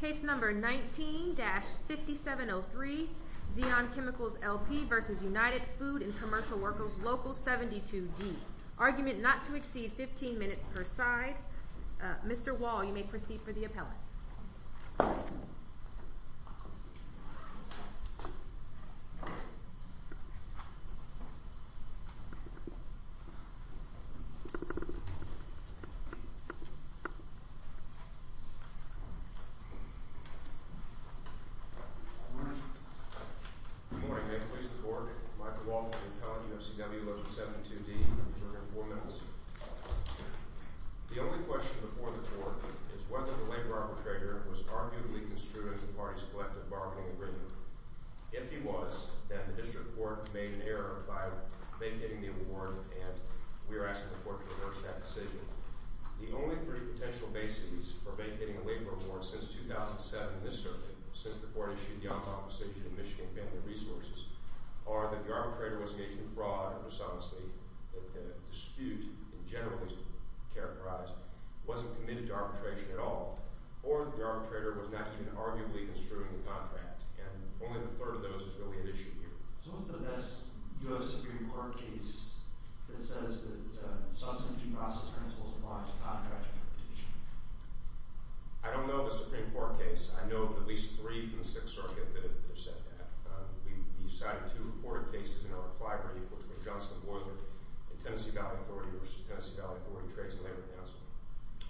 Case number 19-5703, Zeon Chemicals LP v. United Food and Commercial Workers, Local 72D. Argument not to exceed 15 minutes per side. Mr. Wall, you may proceed for the appellate. Good morning. Good morning. May it please the Court, Michael Wall for the appellate, UFCW, Local 72D. I'm adjourning four minutes. The only question before the Court is whether the labor arbitrator was arguably construed under the party's collective bargaining agreement. If he was, then the District Court made an error by vacating the award and we are asking the Court to reverse that decision. The only three potential bases for vacating a labor award since 2007, in this circuit, since the Court issued the on-call decision in Michigan Family Resources, are that the arbitrator was engaged in fraud and dishonestly, that the dispute in general was characterized, wasn't committed to arbitration at all, or that the arbitrator was not even arguably construing the contract. And only the third of those is really at issue here. So what's the best U.S. Supreme Court case that says that substantive due process principles apply to contract interpretation? I don't know of a Supreme Court case. I know of at least three from the Sixth Circuit that have said that. We cited two reported cases in our collaborative, which were Johnston Boiler and Tennessee Valley Authority v. Tennessee Valley Authority Trades and Labor Counseling.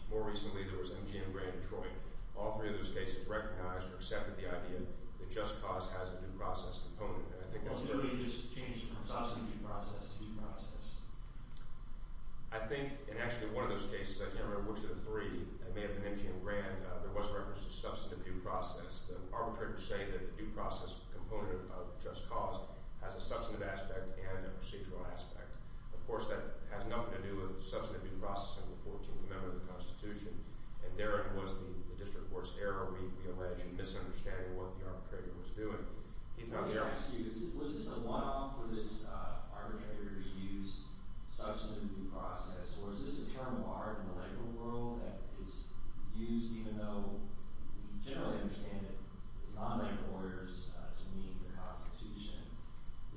More recently, there was MGM Gray in Detroit. All three of those cases recognized or accepted the idea that just cause has a due process component. Ultimately, it just changes from substantive due process to due process. I think in actually one of those cases, I can't remember which of the three, it may have been MGM Gray, there was reference to substantive due process. The arbitrators say that the due process component of just cause has a substantive aspect and a procedural aspect. Of course, that has nothing to do with substantive due process under the 14th Amendment of the Constitution. And therein was the district court's error, we allege, in misunderstanding what the arbitrator was doing. If I may ask you, was this a one-off for this arbitrator to use substantive due process? Or is this a term of art in the labor world that is used, even though we generally understand it, for non-labor lawyers to meet the Constitution?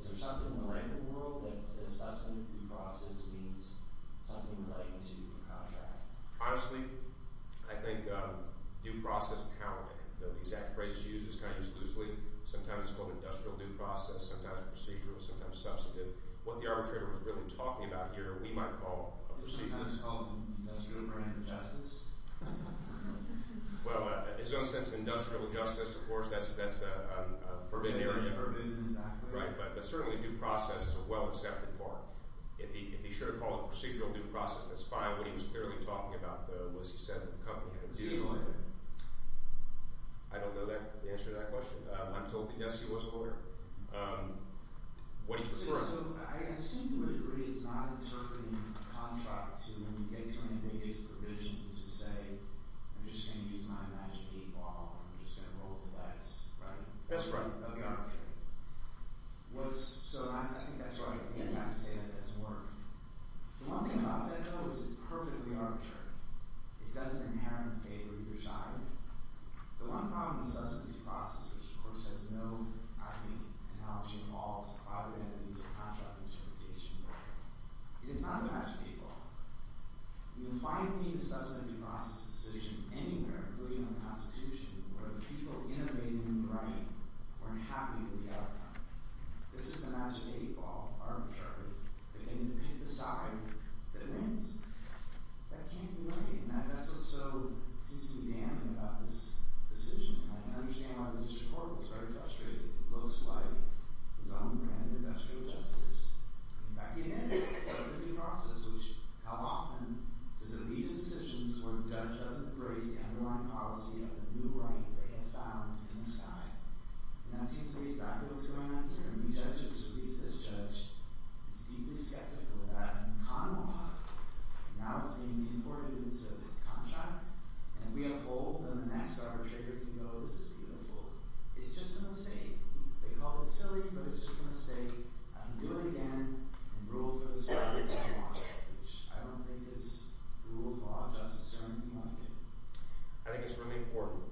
Is there something in the labor world that says substantive due process means something relating to a contract? Honestly, I think due process counting, the exact phrases used, it's kind of used loosely. Sometimes it's called industrial due process, sometimes procedural, sometimes substantive. What the arbitrator was really talking about here, we might call a procedural. Is this called industrial grand justice? Well, in its own sense, industrial justice, of course, that's a forbidden area. Right, but certainly due process is a well-accepted part. If he should have called it procedural due process, that's fine. What he was clearly talking about, though, was he said that the company had a due order. I don't know the answer to that question. I'm told that, yes, he was aware. What he's referring to— So I assume you would agree it's not interpreting a contract to when you get 20 days of provision to say, I'm just going to use my magic 8-ball and I'm just going to roll the dice, right? That's right. So I think that's right. I think I have to say that it doesn't work. The one thing about that, though, is it's perfectly arbitrary. It doesn't inherently favor either side. The one problem with substantive due process, which, of course, has no, I think, analogy involved, other than the use of contractual justification. It is not bad to people. You can find the substantive due process decision anywhere, including in the Constitution, where the people innovating in the right weren't happy with the outcome. This is the magic 8-ball, arbitrary. They can pick the side that wins. That can't be right. That's what seems to be damning about this decision. I can understand why the district court was very frustrated. It looks like it's on the brink of industrial justice. In fact, it is. It's a due process, which, how often does it lead to decisions where the judge doesn't praise the underlying policy of the new right they have found in the sky? And that seems to be exactly what's going on here. Every judge who sues this judge is deeply skeptical of that in common law. Now it's being imported into the contract. And if we uphold, then the next arbitrator can go, oh, this is beautiful. It's just a mistake. They call it silly, but it's just a mistake. I can do it again and rule for the sake of common law, which I don't think is rule of law justice or anything like it. I think it's really important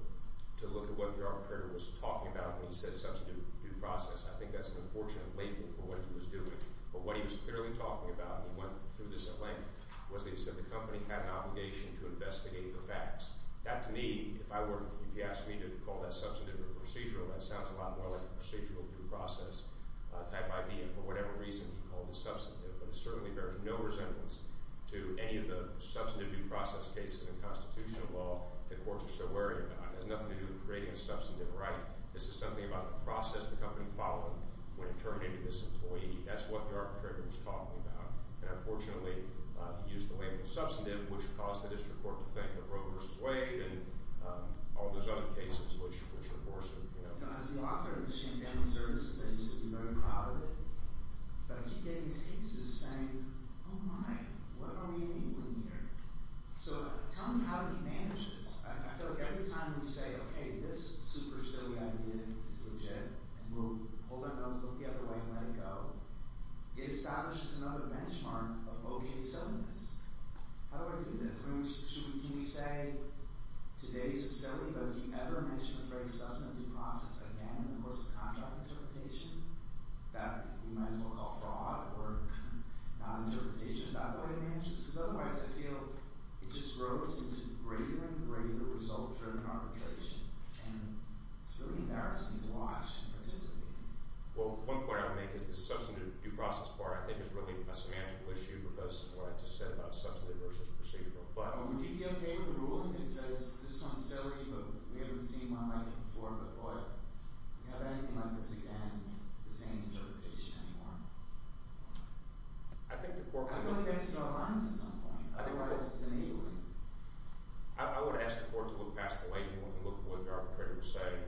to look at what the arbitrator was talking about when he said substantive due process. I think that's an unfortunate label for what he was doing. But what he was clearly talking about, and he went through this at length, was that he said the company had an obligation to investigate the facts. That, to me, if I were to be asked to call that substantive or procedural, that sounds a lot more like a procedural due process type idea. For whatever reason, he called it substantive. But it certainly bears no resemblance to any of the substantive due process cases in constitutional law that courts are so wary about. It has nothing to do with creating a substantive right. This is something about the process the company followed when it terminated this employee. That's what the arbitrator was talking about. And unfortunately, he used the label substantive, which caused the district court to think of Roe v. Wade and all those other cases, which were worse. As the author of Michigan Family Services, I used to be very proud of it. But I keep getting these cases saying, oh, my, what are we doing here? So tell me how he manages. I feel like every time we say, okay, this super silly idea is legit and we'll hold our nose, look the other way, and let it go, it establishes another benchmark of okay silliness. How do I do that? Can we say today's is silly, but have you ever mentioned the phrase substantive due process again in the course of contract interpretation? That you might as well call fraud or non-interpretation. Is that what it means? Because otherwise, I feel it just grows into greater and greater results during arbitration. And it's really embarrassing to watch and participate in. Well, one point I would make is the substantive due process part, I think, is really a semantical issue because of what I just said about substantive versus procedural. But would you be okay with a ruling that says, this one's silly, but we haven't seen one like it before, but what? Do we have anything like this again? The same interpretation anymore? I think the court would— I'd like to draw lines at some point. Otherwise, it's enabling. I would ask the court to look past the label and look at what the arbitrator was saying.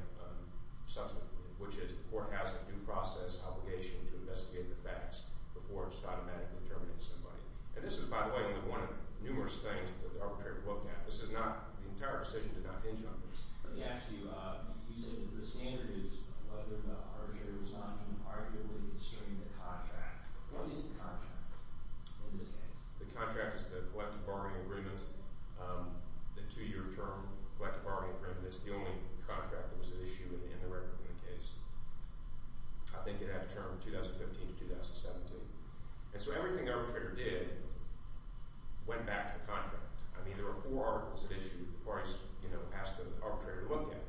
Which is, the court has a due process obligation to investigate the facts before it should automatically terminate somebody. And this is, by the way, one of the numerous things that the arbitrator looked at. This is not—the entire decision did not hinge on this. Actually, you said that the standard is whether the arbitrator was not arguably consuming the contract. What is the contract in this case? The contract is the collective bargaining agreement. The two-year term collective bargaining agreement is the only contract that was at issue in the record in the case. I think it had a term of 2015 to 2017. And so everything the arbitrator did went back to the contract. I mean, there were four articles at issue that the parties, you know, asked the arbitrator to look at.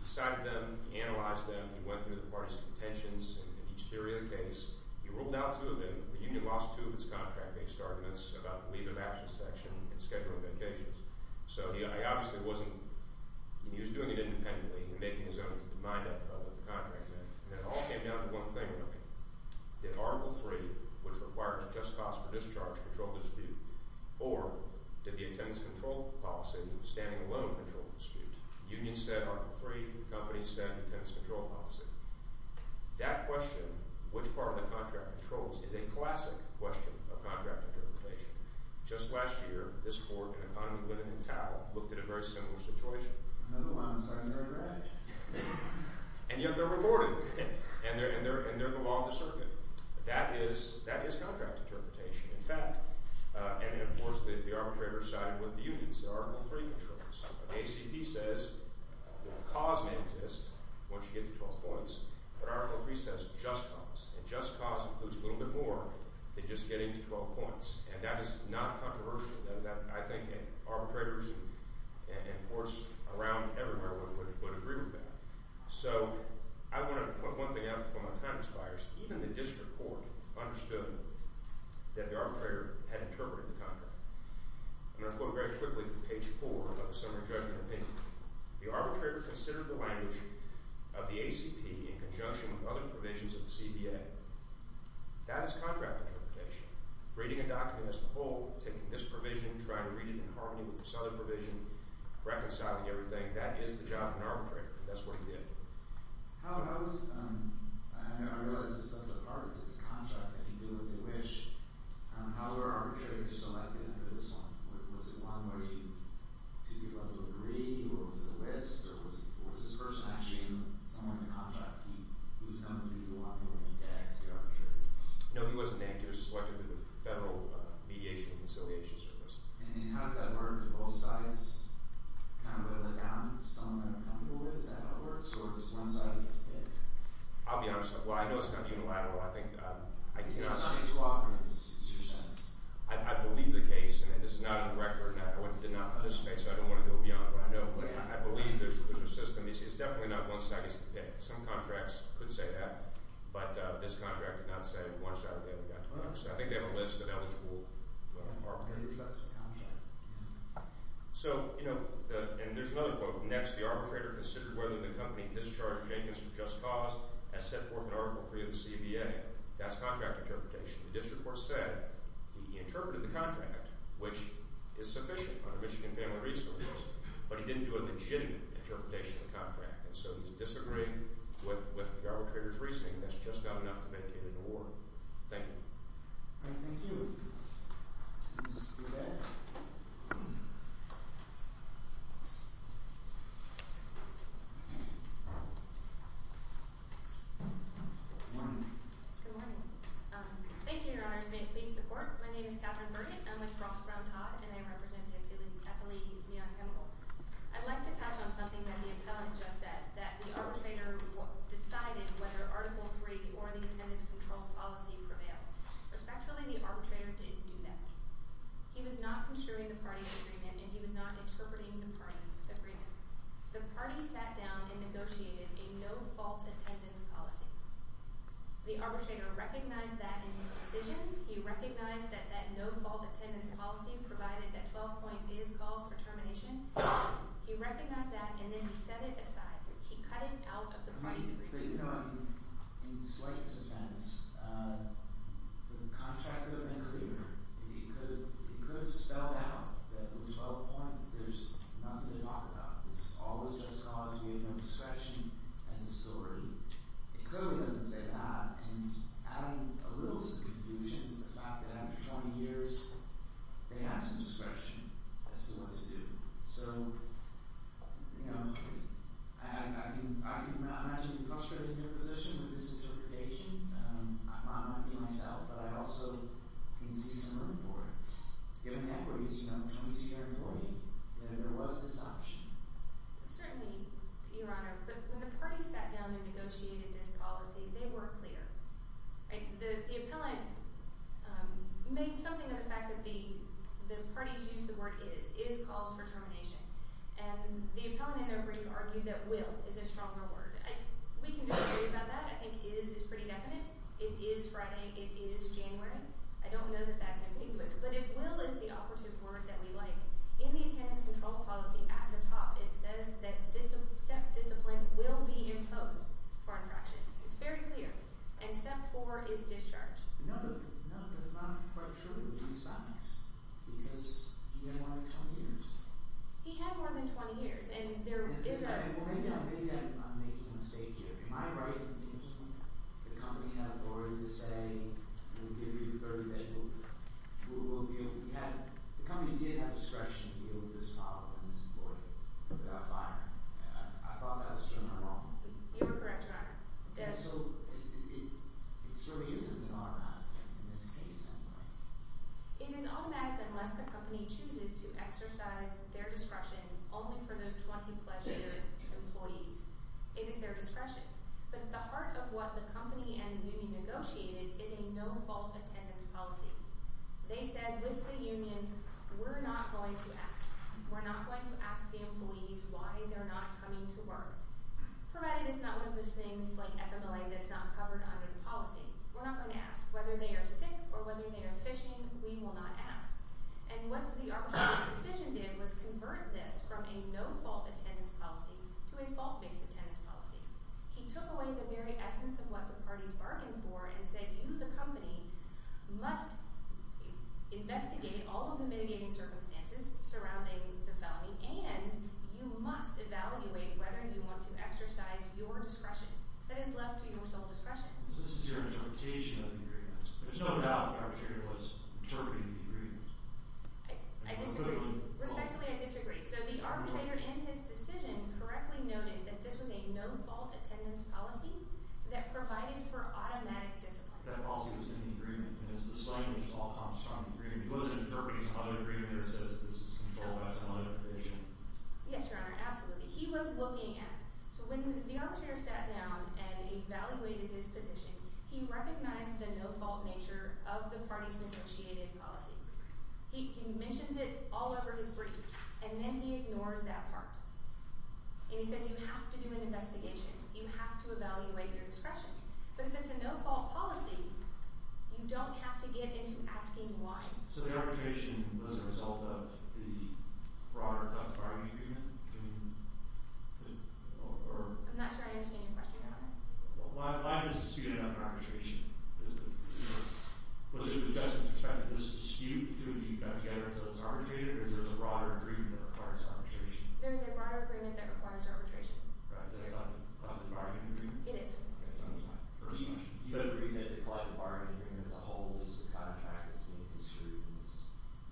He cited them. He analyzed them. He went through the parties' contentions and each theory of the case. He ruled out two of them. The union lost two of its contract-based arguments about the leave of absence section and schedule of vacations. So he obviously wasn't—he was doing it independently and making his own mind up about what the contract meant. And it all came down to one thing really. Did Article III, which requires just cause for discharge, control the dispute? Or did the attendance control policy of standing alone control the dispute? The union said Article III. The company said attendance control policy. That question, which part of the contract controls, is a classic question of contract interpretation. Just last year, this court in Economy, Limit, and Tau looked at a very similar situation. Another one. It's under the red. And yet they're reported, and they're the law of the circuit. That is contract interpretation, in fact. And, of course, the arbitrator sided with the unions. The ACP says the cause may exist once you get to 12 points. But Article III says just cause. And just cause includes a little bit more than just getting to 12 points. And that is not controversial. I think arbitrators and courts around everywhere would agree with that. So I want to point one thing out before my time expires. Even the district court understood that the arbitrator had interpreted the contract. I'm going to quote very quickly from page 4 of the summary judgment opinion. The arbitrator considered the language of the ACP in conjunction with other provisions of the CBA. That is contract interpretation. Reading a document as a whole, taking this provision, trying to read it in harmony with this other provision, reconciling everything. That is the job of an arbitrator. That's what he did. How was – I realize this is a subject of Congress. It's a contract. They can do what they wish. How were arbitrators selected under this one? Was it one where you took your level of degree? Or was it a list? Or was this person actually someone in the contract who was going to be walking away dead as the arbitrator? No, he wasn't that. He was selected through the Federal Mediation and Conciliation Service. And how does that work? Do both sides kind of let down someone they're comfortable with? Is that how it works, or does one side get to pick? I'll be honest with you. Well, I know it's kind of unilateral. It's not a cooperative decision. I believe the case. And this is not a direct or indirect. I did not participate, so I don't want to go beyond what I know. But I believe there's a system. It's definitely not one side gets to pick. Some contracts could say that. But this contract did not say one side would be able to get to pick. So I think they have a list of eligible arbitrators. So, you know, and there's another quote. Next, the arbitrator considered whether the company discharged Jenkins from just cause as set forth in Article III of the CBA. That's contract interpretation. The district court said he interpreted the contract, which is sufficient under Michigan Family Resources, but he didn't do a legitimate interpretation of the contract. And so he's disagreeing with the arbitrator's reasoning. That's just not enough to make it an award. Thank you. All right, thank you. Let's go back. Good morning. Good morning. Thank you, Your Honors. May it please the court. My name is Catherine Burnett. I'm with Ross Brown Todd, and I represent Epilete Museum Chemical. I'd like to touch on something that the appellant just said, that the arbitrator decided whether Article III or the attendance control policy prevailed. Respectfully, the arbitrator didn't do that. He was not construing the party's agreement, and he was not interpreting the party's agreement. The party sat down and negotiated a no-fault attendance policy. The arbitrator recognized that in his decision. He recognized that that no-fault attendance policy provided that 12 points is cause for termination. He recognized that, and then he set it aside. He cut it out of the party's agreement. But, you know, in Slate's offense, the contract could have been clearer. It could have spelled out that with 12 points, there's nothing to talk about. This is always just cause. We have no discretion and no celerity. It clearly doesn't say that, and adding a little to the confusion is the fact that after 20 years, they had some discretion as to what to do. So, you know, I can imagine you're frustrated in your position with this interpretation. I might not be myself, but I also can see some room for it. Given the equities, you know, I'm a 22-year employee. There was this option. Certainly, Your Honor, but when the party sat down and negotiated this policy, they were clear. The appellant made something of the fact that the parties used the word is, is cause for termination. And the appellant, in their brief, argued that will is a stronger word. We can disagree about that. I think is is pretty definite. It is Friday. It is January. I don't know that that's ambiguous. But if will is the operative word that we like, in the attendance control policy at the top, it says that discipline will be imposed for infractions. It's very clear. And step four is discharge. No, no, that's not quite true. He's not. Because he had more than 20 years. He had more than 20 years. And there is a— Maybe I'm making a mistake here. Am I right? The company had authority to say, we'll give you 30 days. We'll deal with it. The company did have discretion to deal with this problem and support it. Without firing. I thought that was generally wrong. You were correct, Your Honor. So it sort of uses an R on it, in this case. It is automatic unless the company chooses to exercise their discretion only for those 20-plus year employees. It is their discretion. But at the heart of what the company and the union negotiated is a no-fault attendance policy. They said, with the union, we're not going to ask. We're not going to ask the employees why they're not coming to work. Provided it's not one of those things like FMLA that's not covered under the policy. We're not going to ask. Whether they are sick or whether they are fishing, we will not ask. And what the arbitrator's decision did was convert this from a no-fault attendance policy to a fault-based attendance policy. He took away the very essence of what the parties bargained for and said, you, the company, must investigate all of the mitigating circumstances surrounding the felony, and you must evaluate whether you want to exercise your discretion. That is left to your sole discretion. So this is your interpretation of the agreement. There's no doubt the arbitrator was interpreting the agreement. I disagree. Respectfully, I disagree. So the arbitrator in his decision correctly noted that this was a no-fault attendance policy that provided for automatic discipline. That policy was in the agreement. And it's the site which all comes from the agreement. He wasn't interpreting some other agreement or says this is controlled by some other commission. Yes, Your Honor. Absolutely. He was looking at it. So when the arbitrator sat down and evaluated his position, he recognized the no-fault nature of the parties' negotiated policy. He mentions it all over his brief, and then he ignores that part. And he says you have to do an investigation. You have to evaluate your discretion. But if it's a no-fault policy, you don't have to get into asking why. So the arbitration was a result of the broader content bargaining agreement? I'm not sure I understand your question, Your Honor. Mine is a dispute about arbitration. Was it a justice perspective? Was it a dispute to have you got together and said let's arbitrate it, or is there a broader agreement that requires arbitration? There is a broader agreement that requires arbitration. Right. Is that a content bargaining agreement? It is. Do you agree that the content bargaining agreement as a whole is the kind of fact that's being construed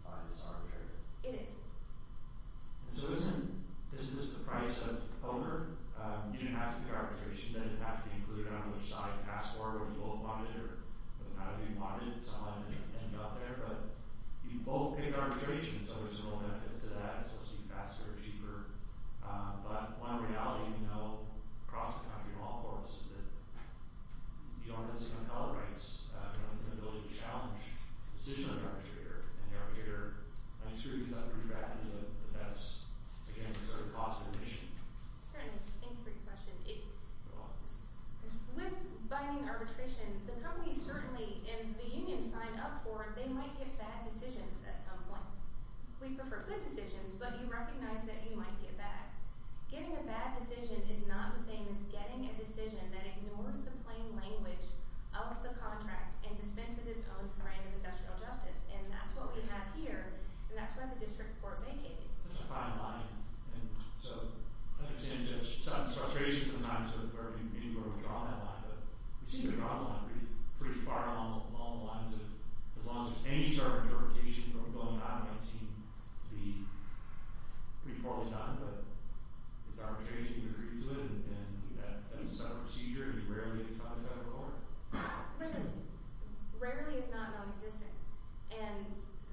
by this arbitrator? It is. So isn't this the price of over? You didn't have to pick arbitration. You didn't have to include it on which side. It's a password. You both wanted it. It doesn't matter who you wanted it. Someone ended up there. But you both picked arbitration, so there's no benefits to that. It's supposed to be faster and cheaper. But one reality, you know, across the country from all of us is that the office of compel rights has an ability to challenge the decision of the arbitrator. And the arbitrator, I'm sure, is going to regret it. But that's, again, sort of the cost of the mission. Certainly. Thank you for your question. With binding arbitration, the companies certainly, if the union signed up for it, they might get bad decisions at some point. We prefer good decisions, but you recognize that you might get bad. Getting a bad decision is not the same as getting a decision that ignores the plain language of the contract and dispenses its own brand of industrial justice. And that's what we have here, and that's where the district court vacated. That's a fine line. And so, like I said, there's some frustrations sometimes with where we draw that line. But we seem to draw the line pretty far along the lines of as long as there's any sort of interpretation, what we're going after might seem to be pretty poorly done. But it's arbitration. We agree to it. And that's a separate procedure. And it rarely becomes federal court. Rarely. Rarely is not non-existent. And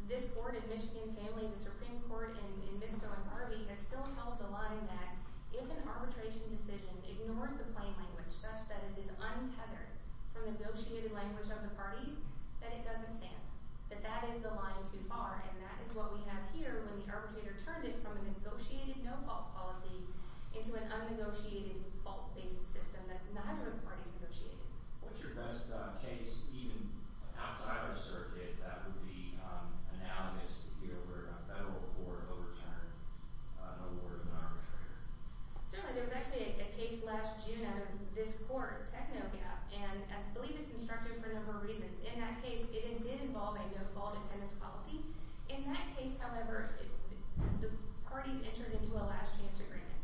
this court in Michigan family, the Supreme Court in Misko and Garvey, has still held the line that if an arbitration decision ignores the plain language such that it is untethered from negotiated language of the parties, then it doesn't stand. But that is the line too far, and that is what we have here when the arbitrator turned it from a negotiated no-fault policy into an unnegotiated fault-based system that neither of the parties negotiated. What's your best case, even outside of the circuit, that would be analogous to here where a federal court overturned an award of an arbitrator? Certainly. There was actually a case last June out of this court, Technogap, and I believe it's instructed for a number of reasons. In that case, it did involve a no-fault attendance policy. In that case, however, the parties entered into a last-chance agreement.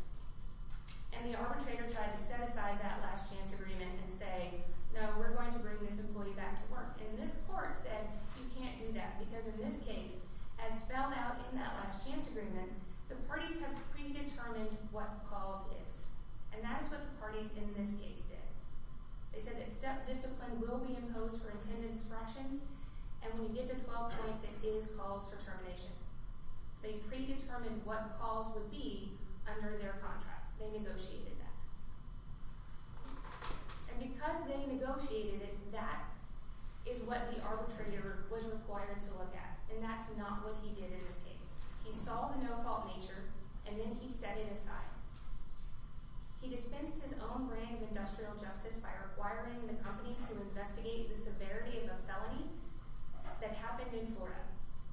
And the arbitrator tried to set aside that last-chance agreement and say, no, we're going to bring this employee back to work. And this court said, you can't do that, because in this case, as spelled out in that last-chance agreement, the parties have predetermined what calls is. And that is what the parties in this case did. They said that discipline will be imposed for attendance fractions, and when you get to 12 points, it is calls for termination. They predetermined what calls would be under their contract. They negotiated that. And because they negotiated it, that is what the arbitrator was required to look at. And that's not what he did in this case. He saw the no-fault nature, and then he set it aside. He dispensed his own brand of industrial justice by requiring the company to investigate the severity of a felony that happened in Florida.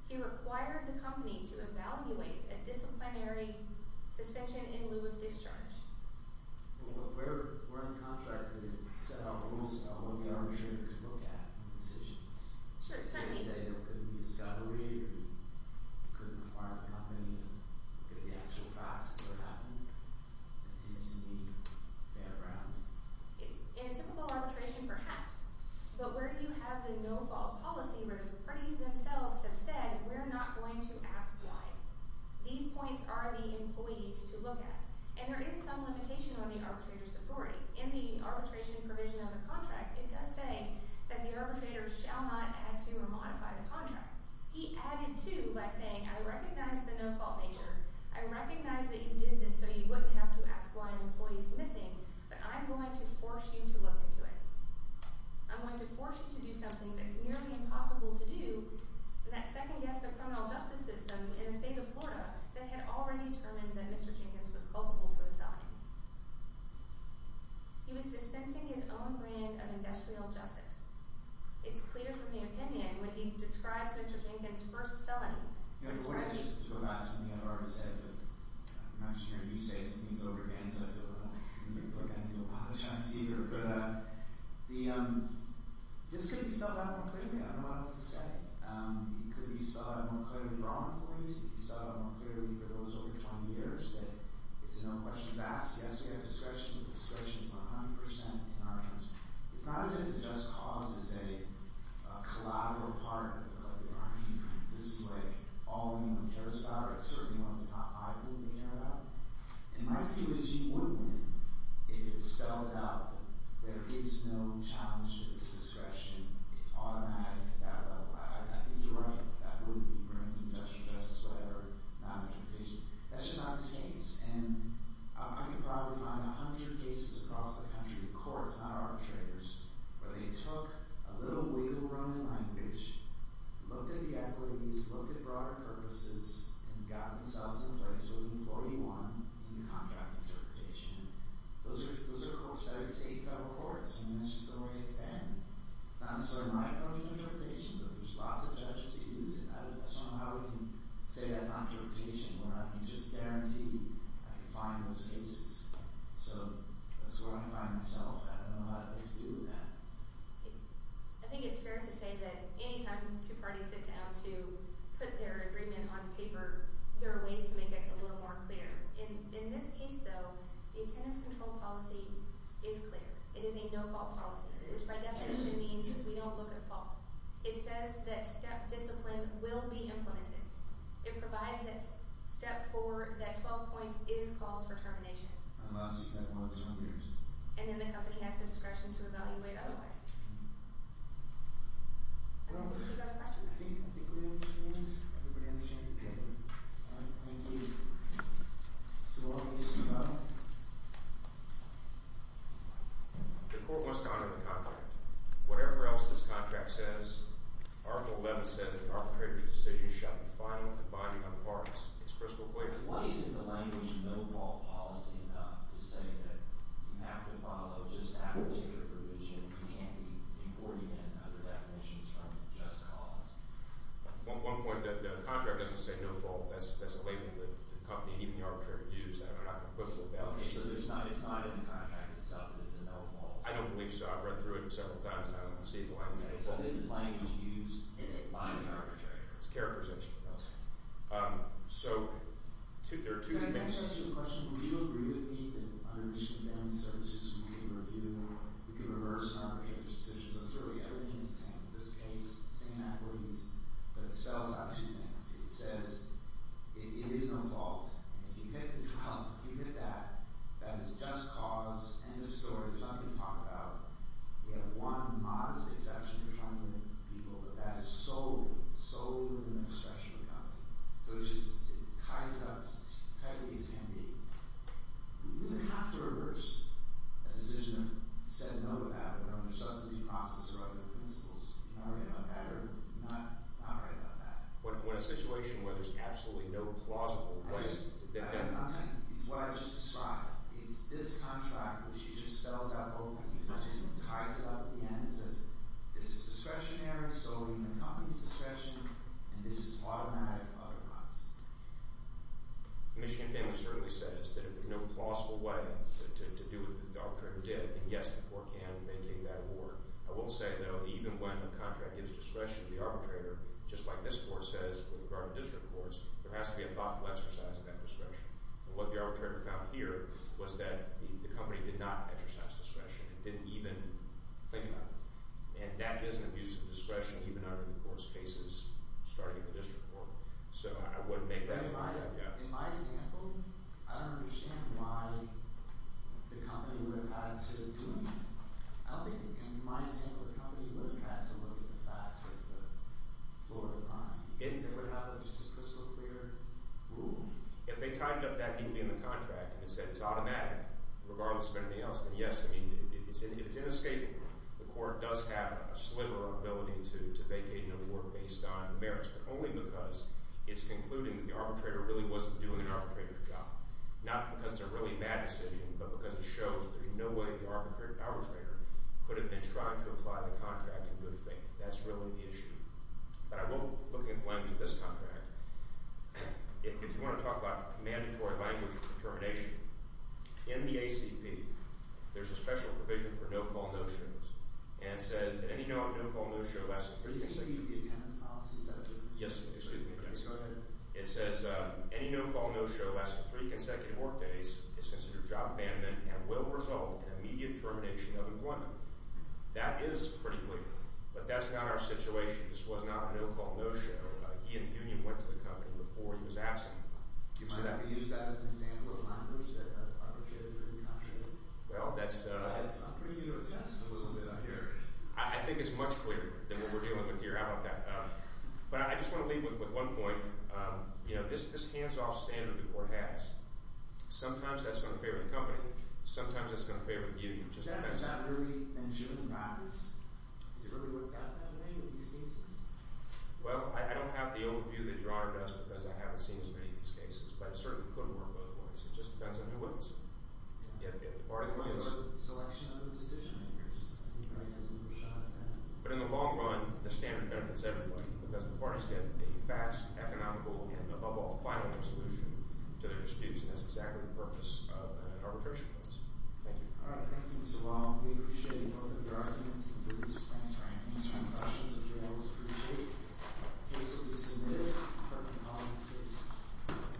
He required the company to evaluate a disciplinary suspension in lieu of discharge. But where in the contract did he set out rules about what the arbitrator could look at in the decision? Sure, certainly. Did he say there couldn't be a scottery, or he couldn't require the company to look at the actual facts of what happened? That seems to me fair ground. In a typical arbitration, perhaps. But where you have the no-fault policy where the parties themselves have said we're not going to ask why, these points are the employees to look at. And there is some limitation on the arbitrator's authority. In the arbitration provision of the contract, it does say that the arbitrator shall not add to or modify the contract. He added to by saying I recognize the no-fault nature. I recognize that you did this so you wouldn't have to ask why an employee is missing. But I'm going to force you to look into it. I'm going to force you to do something that's nearly impossible to do in that second guess of criminal justice system in the state of Florida that had already determined that Mr. Jenkins was culpable for the felony. He was dispensing his own brand of industrial justice. It's clear from the opinion when he describes Mr. Jenkins' first felony. You know, before I just throw out something I've already said, but I'm not sure you're going to say something that's over again, so I feel like I need to apologize here. But this could be solved out more clearly. I don't know what else to say. It could be solved out more clearly for all employees. It could be solved out more clearly for those over 20 years that there's no questions asked. Yes, we have discretion. But discretion is not 100% in our terms. It's not as if the just cause is a collateral part of the crime. This is, like, all anyone cares about, or it's certainly one of the top five things they care about. And my view is you would win if it's spelled out that there is no challenge to this discretion. It's automatic at that level. I think you're right. That would be criminal industrial justice, whatever, not a competition. That's just not the case. And I could probably find 100 cases across the country, courts, not arbitrators, where they took a little wiggle room in language, looked at the equities, looked at broader purposes, and got themselves in place with employee one in the contract interpretation. Those are courts that are state and federal courts, and that's just the way it's been. It's not necessarily my approach to interpretation, but there's lots of judges who use it. I don't know how we can say that's not interpretation where I can just guarantee I can find those cases. So that's where I find myself. I don't know how to get to do that. I think it's fair to say that any time two parties sit down to put their agreement on paper, there are ways to make it a little more clear. In this case, though, the attendance control policy is clear. It is a no-fault policy, which by definition means we don't look at fault. It says that step discipline will be implemented. It provides at step four that 12 points is cause for termination. Unless you have more than 12 years. And then the company has the discretion to evaluate otherwise. Any other questions? I think we're in the chamber. Everybody in the chamber? Thank you. Thank you. So long. Good luck. The court must honor the contract. Whatever else this contract says, Article 11 says the arbitrator's decision shall be final and binding on the parties. It's crystal clear. Why isn't the language no-fault policy enough to say that you have to follow just that particular provision? You can't be importing in other definitions from just cause? One point, the contract doesn't say no-fault. That's a label that the company and even the arbitrator use. I'm not going to quibble about it. Okay, so it's not in the contract itself that it's a no-fault? I don't believe so. I've read through it several times, and I don't see why it's no-fault. So this language used by the arbitrator. It's a care provision for us. So there are two cases. Can I just ask you a question? Would you agree with me that under Michigan Family Services we can review, we can reverse an arbitrator's decision? So certainly everything is the same in this case. Same accolades, but it spells out two things. It says it is no-fault. If you get that, that is just cause, end of story, there's nothing to talk about. We have one modest exception for trying to limit people, but that is solely, solely within the discretion of the company. So it ties it up as tightly as can be. We would have to reverse a decision that said no to that under subsidy process or other principles. Would you not agree about that or not agree about that? When a situation where there's absolutely no plausible way that that works. It's what I just described. It's this contract, which he just spells out both of these and ties it up at the end. It says this is discretionary, solely in the company's discretion, and this is automatic otherwise. Michigan Family certainly says that if there's no plausible way to do what the arbitrator did, then yes, the court can maintain that award. I will say, though, even when a contract gives discretion to the arbitrator, just like this court says with regard to district courts, there has to be a thoughtful exercise of that discretion. And what the arbitrator found here was that the company did not exercise discretion. It didn't even think about it. And that is an abuse of discretion even under the court's cases starting at the district court. So I wouldn't make that argument. In my example, I don't understand why the company would have had to do it. I don't think, in my example, the company would have had to look at the facts of the Florida crime. Is that what happened? Just a crystal clear rule? If they tied up that need to be in the contract and it said it's automatic regardless of anything else, then yes. I mean if it's inescapable, the court does have a sliver of ability to vacate an award based on merits, but only because it's concluding that the arbitrator really wasn't doing an arbitrator's job. Not because it's a really bad decision, but because it shows that there's no way the arbitrator could have been trying to apply the contract in good faith. That's really the issue. But I will look at the language of this contract. If you want to talk about mandatory language of determination, in the ACP, there's a special provision for no-call, no-shows. And it says that any no on no-call, no-show, less than three can— Excuse me. Yes, excuse me. Go ahead. It says any no-call, no-show, less than three consecutive work days is considered job abandonment and will result in immediate termination of employment. That is pretty clear. But that's not our situation. This was not a no-call, no-show. He and the union went to the company before he was absent. Do you see that? Might I use that as an example of language that are appreciated in the country? Well, that's— I'm bringing you to a test a little bit out here. I think it's much clearer than what we're dealing with here. But I just want to leave with one point. You know, this hands-off standard the court has, sometimes that's going to fare with the company. Sometimes that's going to fare with you. Does that really ensure the practice? Does it really work that way with these cases? Well, I don't have the overview that your Honor does because I haven't seen as many of these cases. But it certainly could work both ways. It just depends on who wins. Or the selection of the decision-makers. But in the long run, the standard benefits everybody because the parties get a fast, economical, and above all, final solution to their disputes. And that's exactly the purpose of an arbitration case. Thank you. All right. Thank you, Mr. Long. We appreciate both of your arguments. Thank you for your time. If you have any questions that you want us to reshape, please submit them.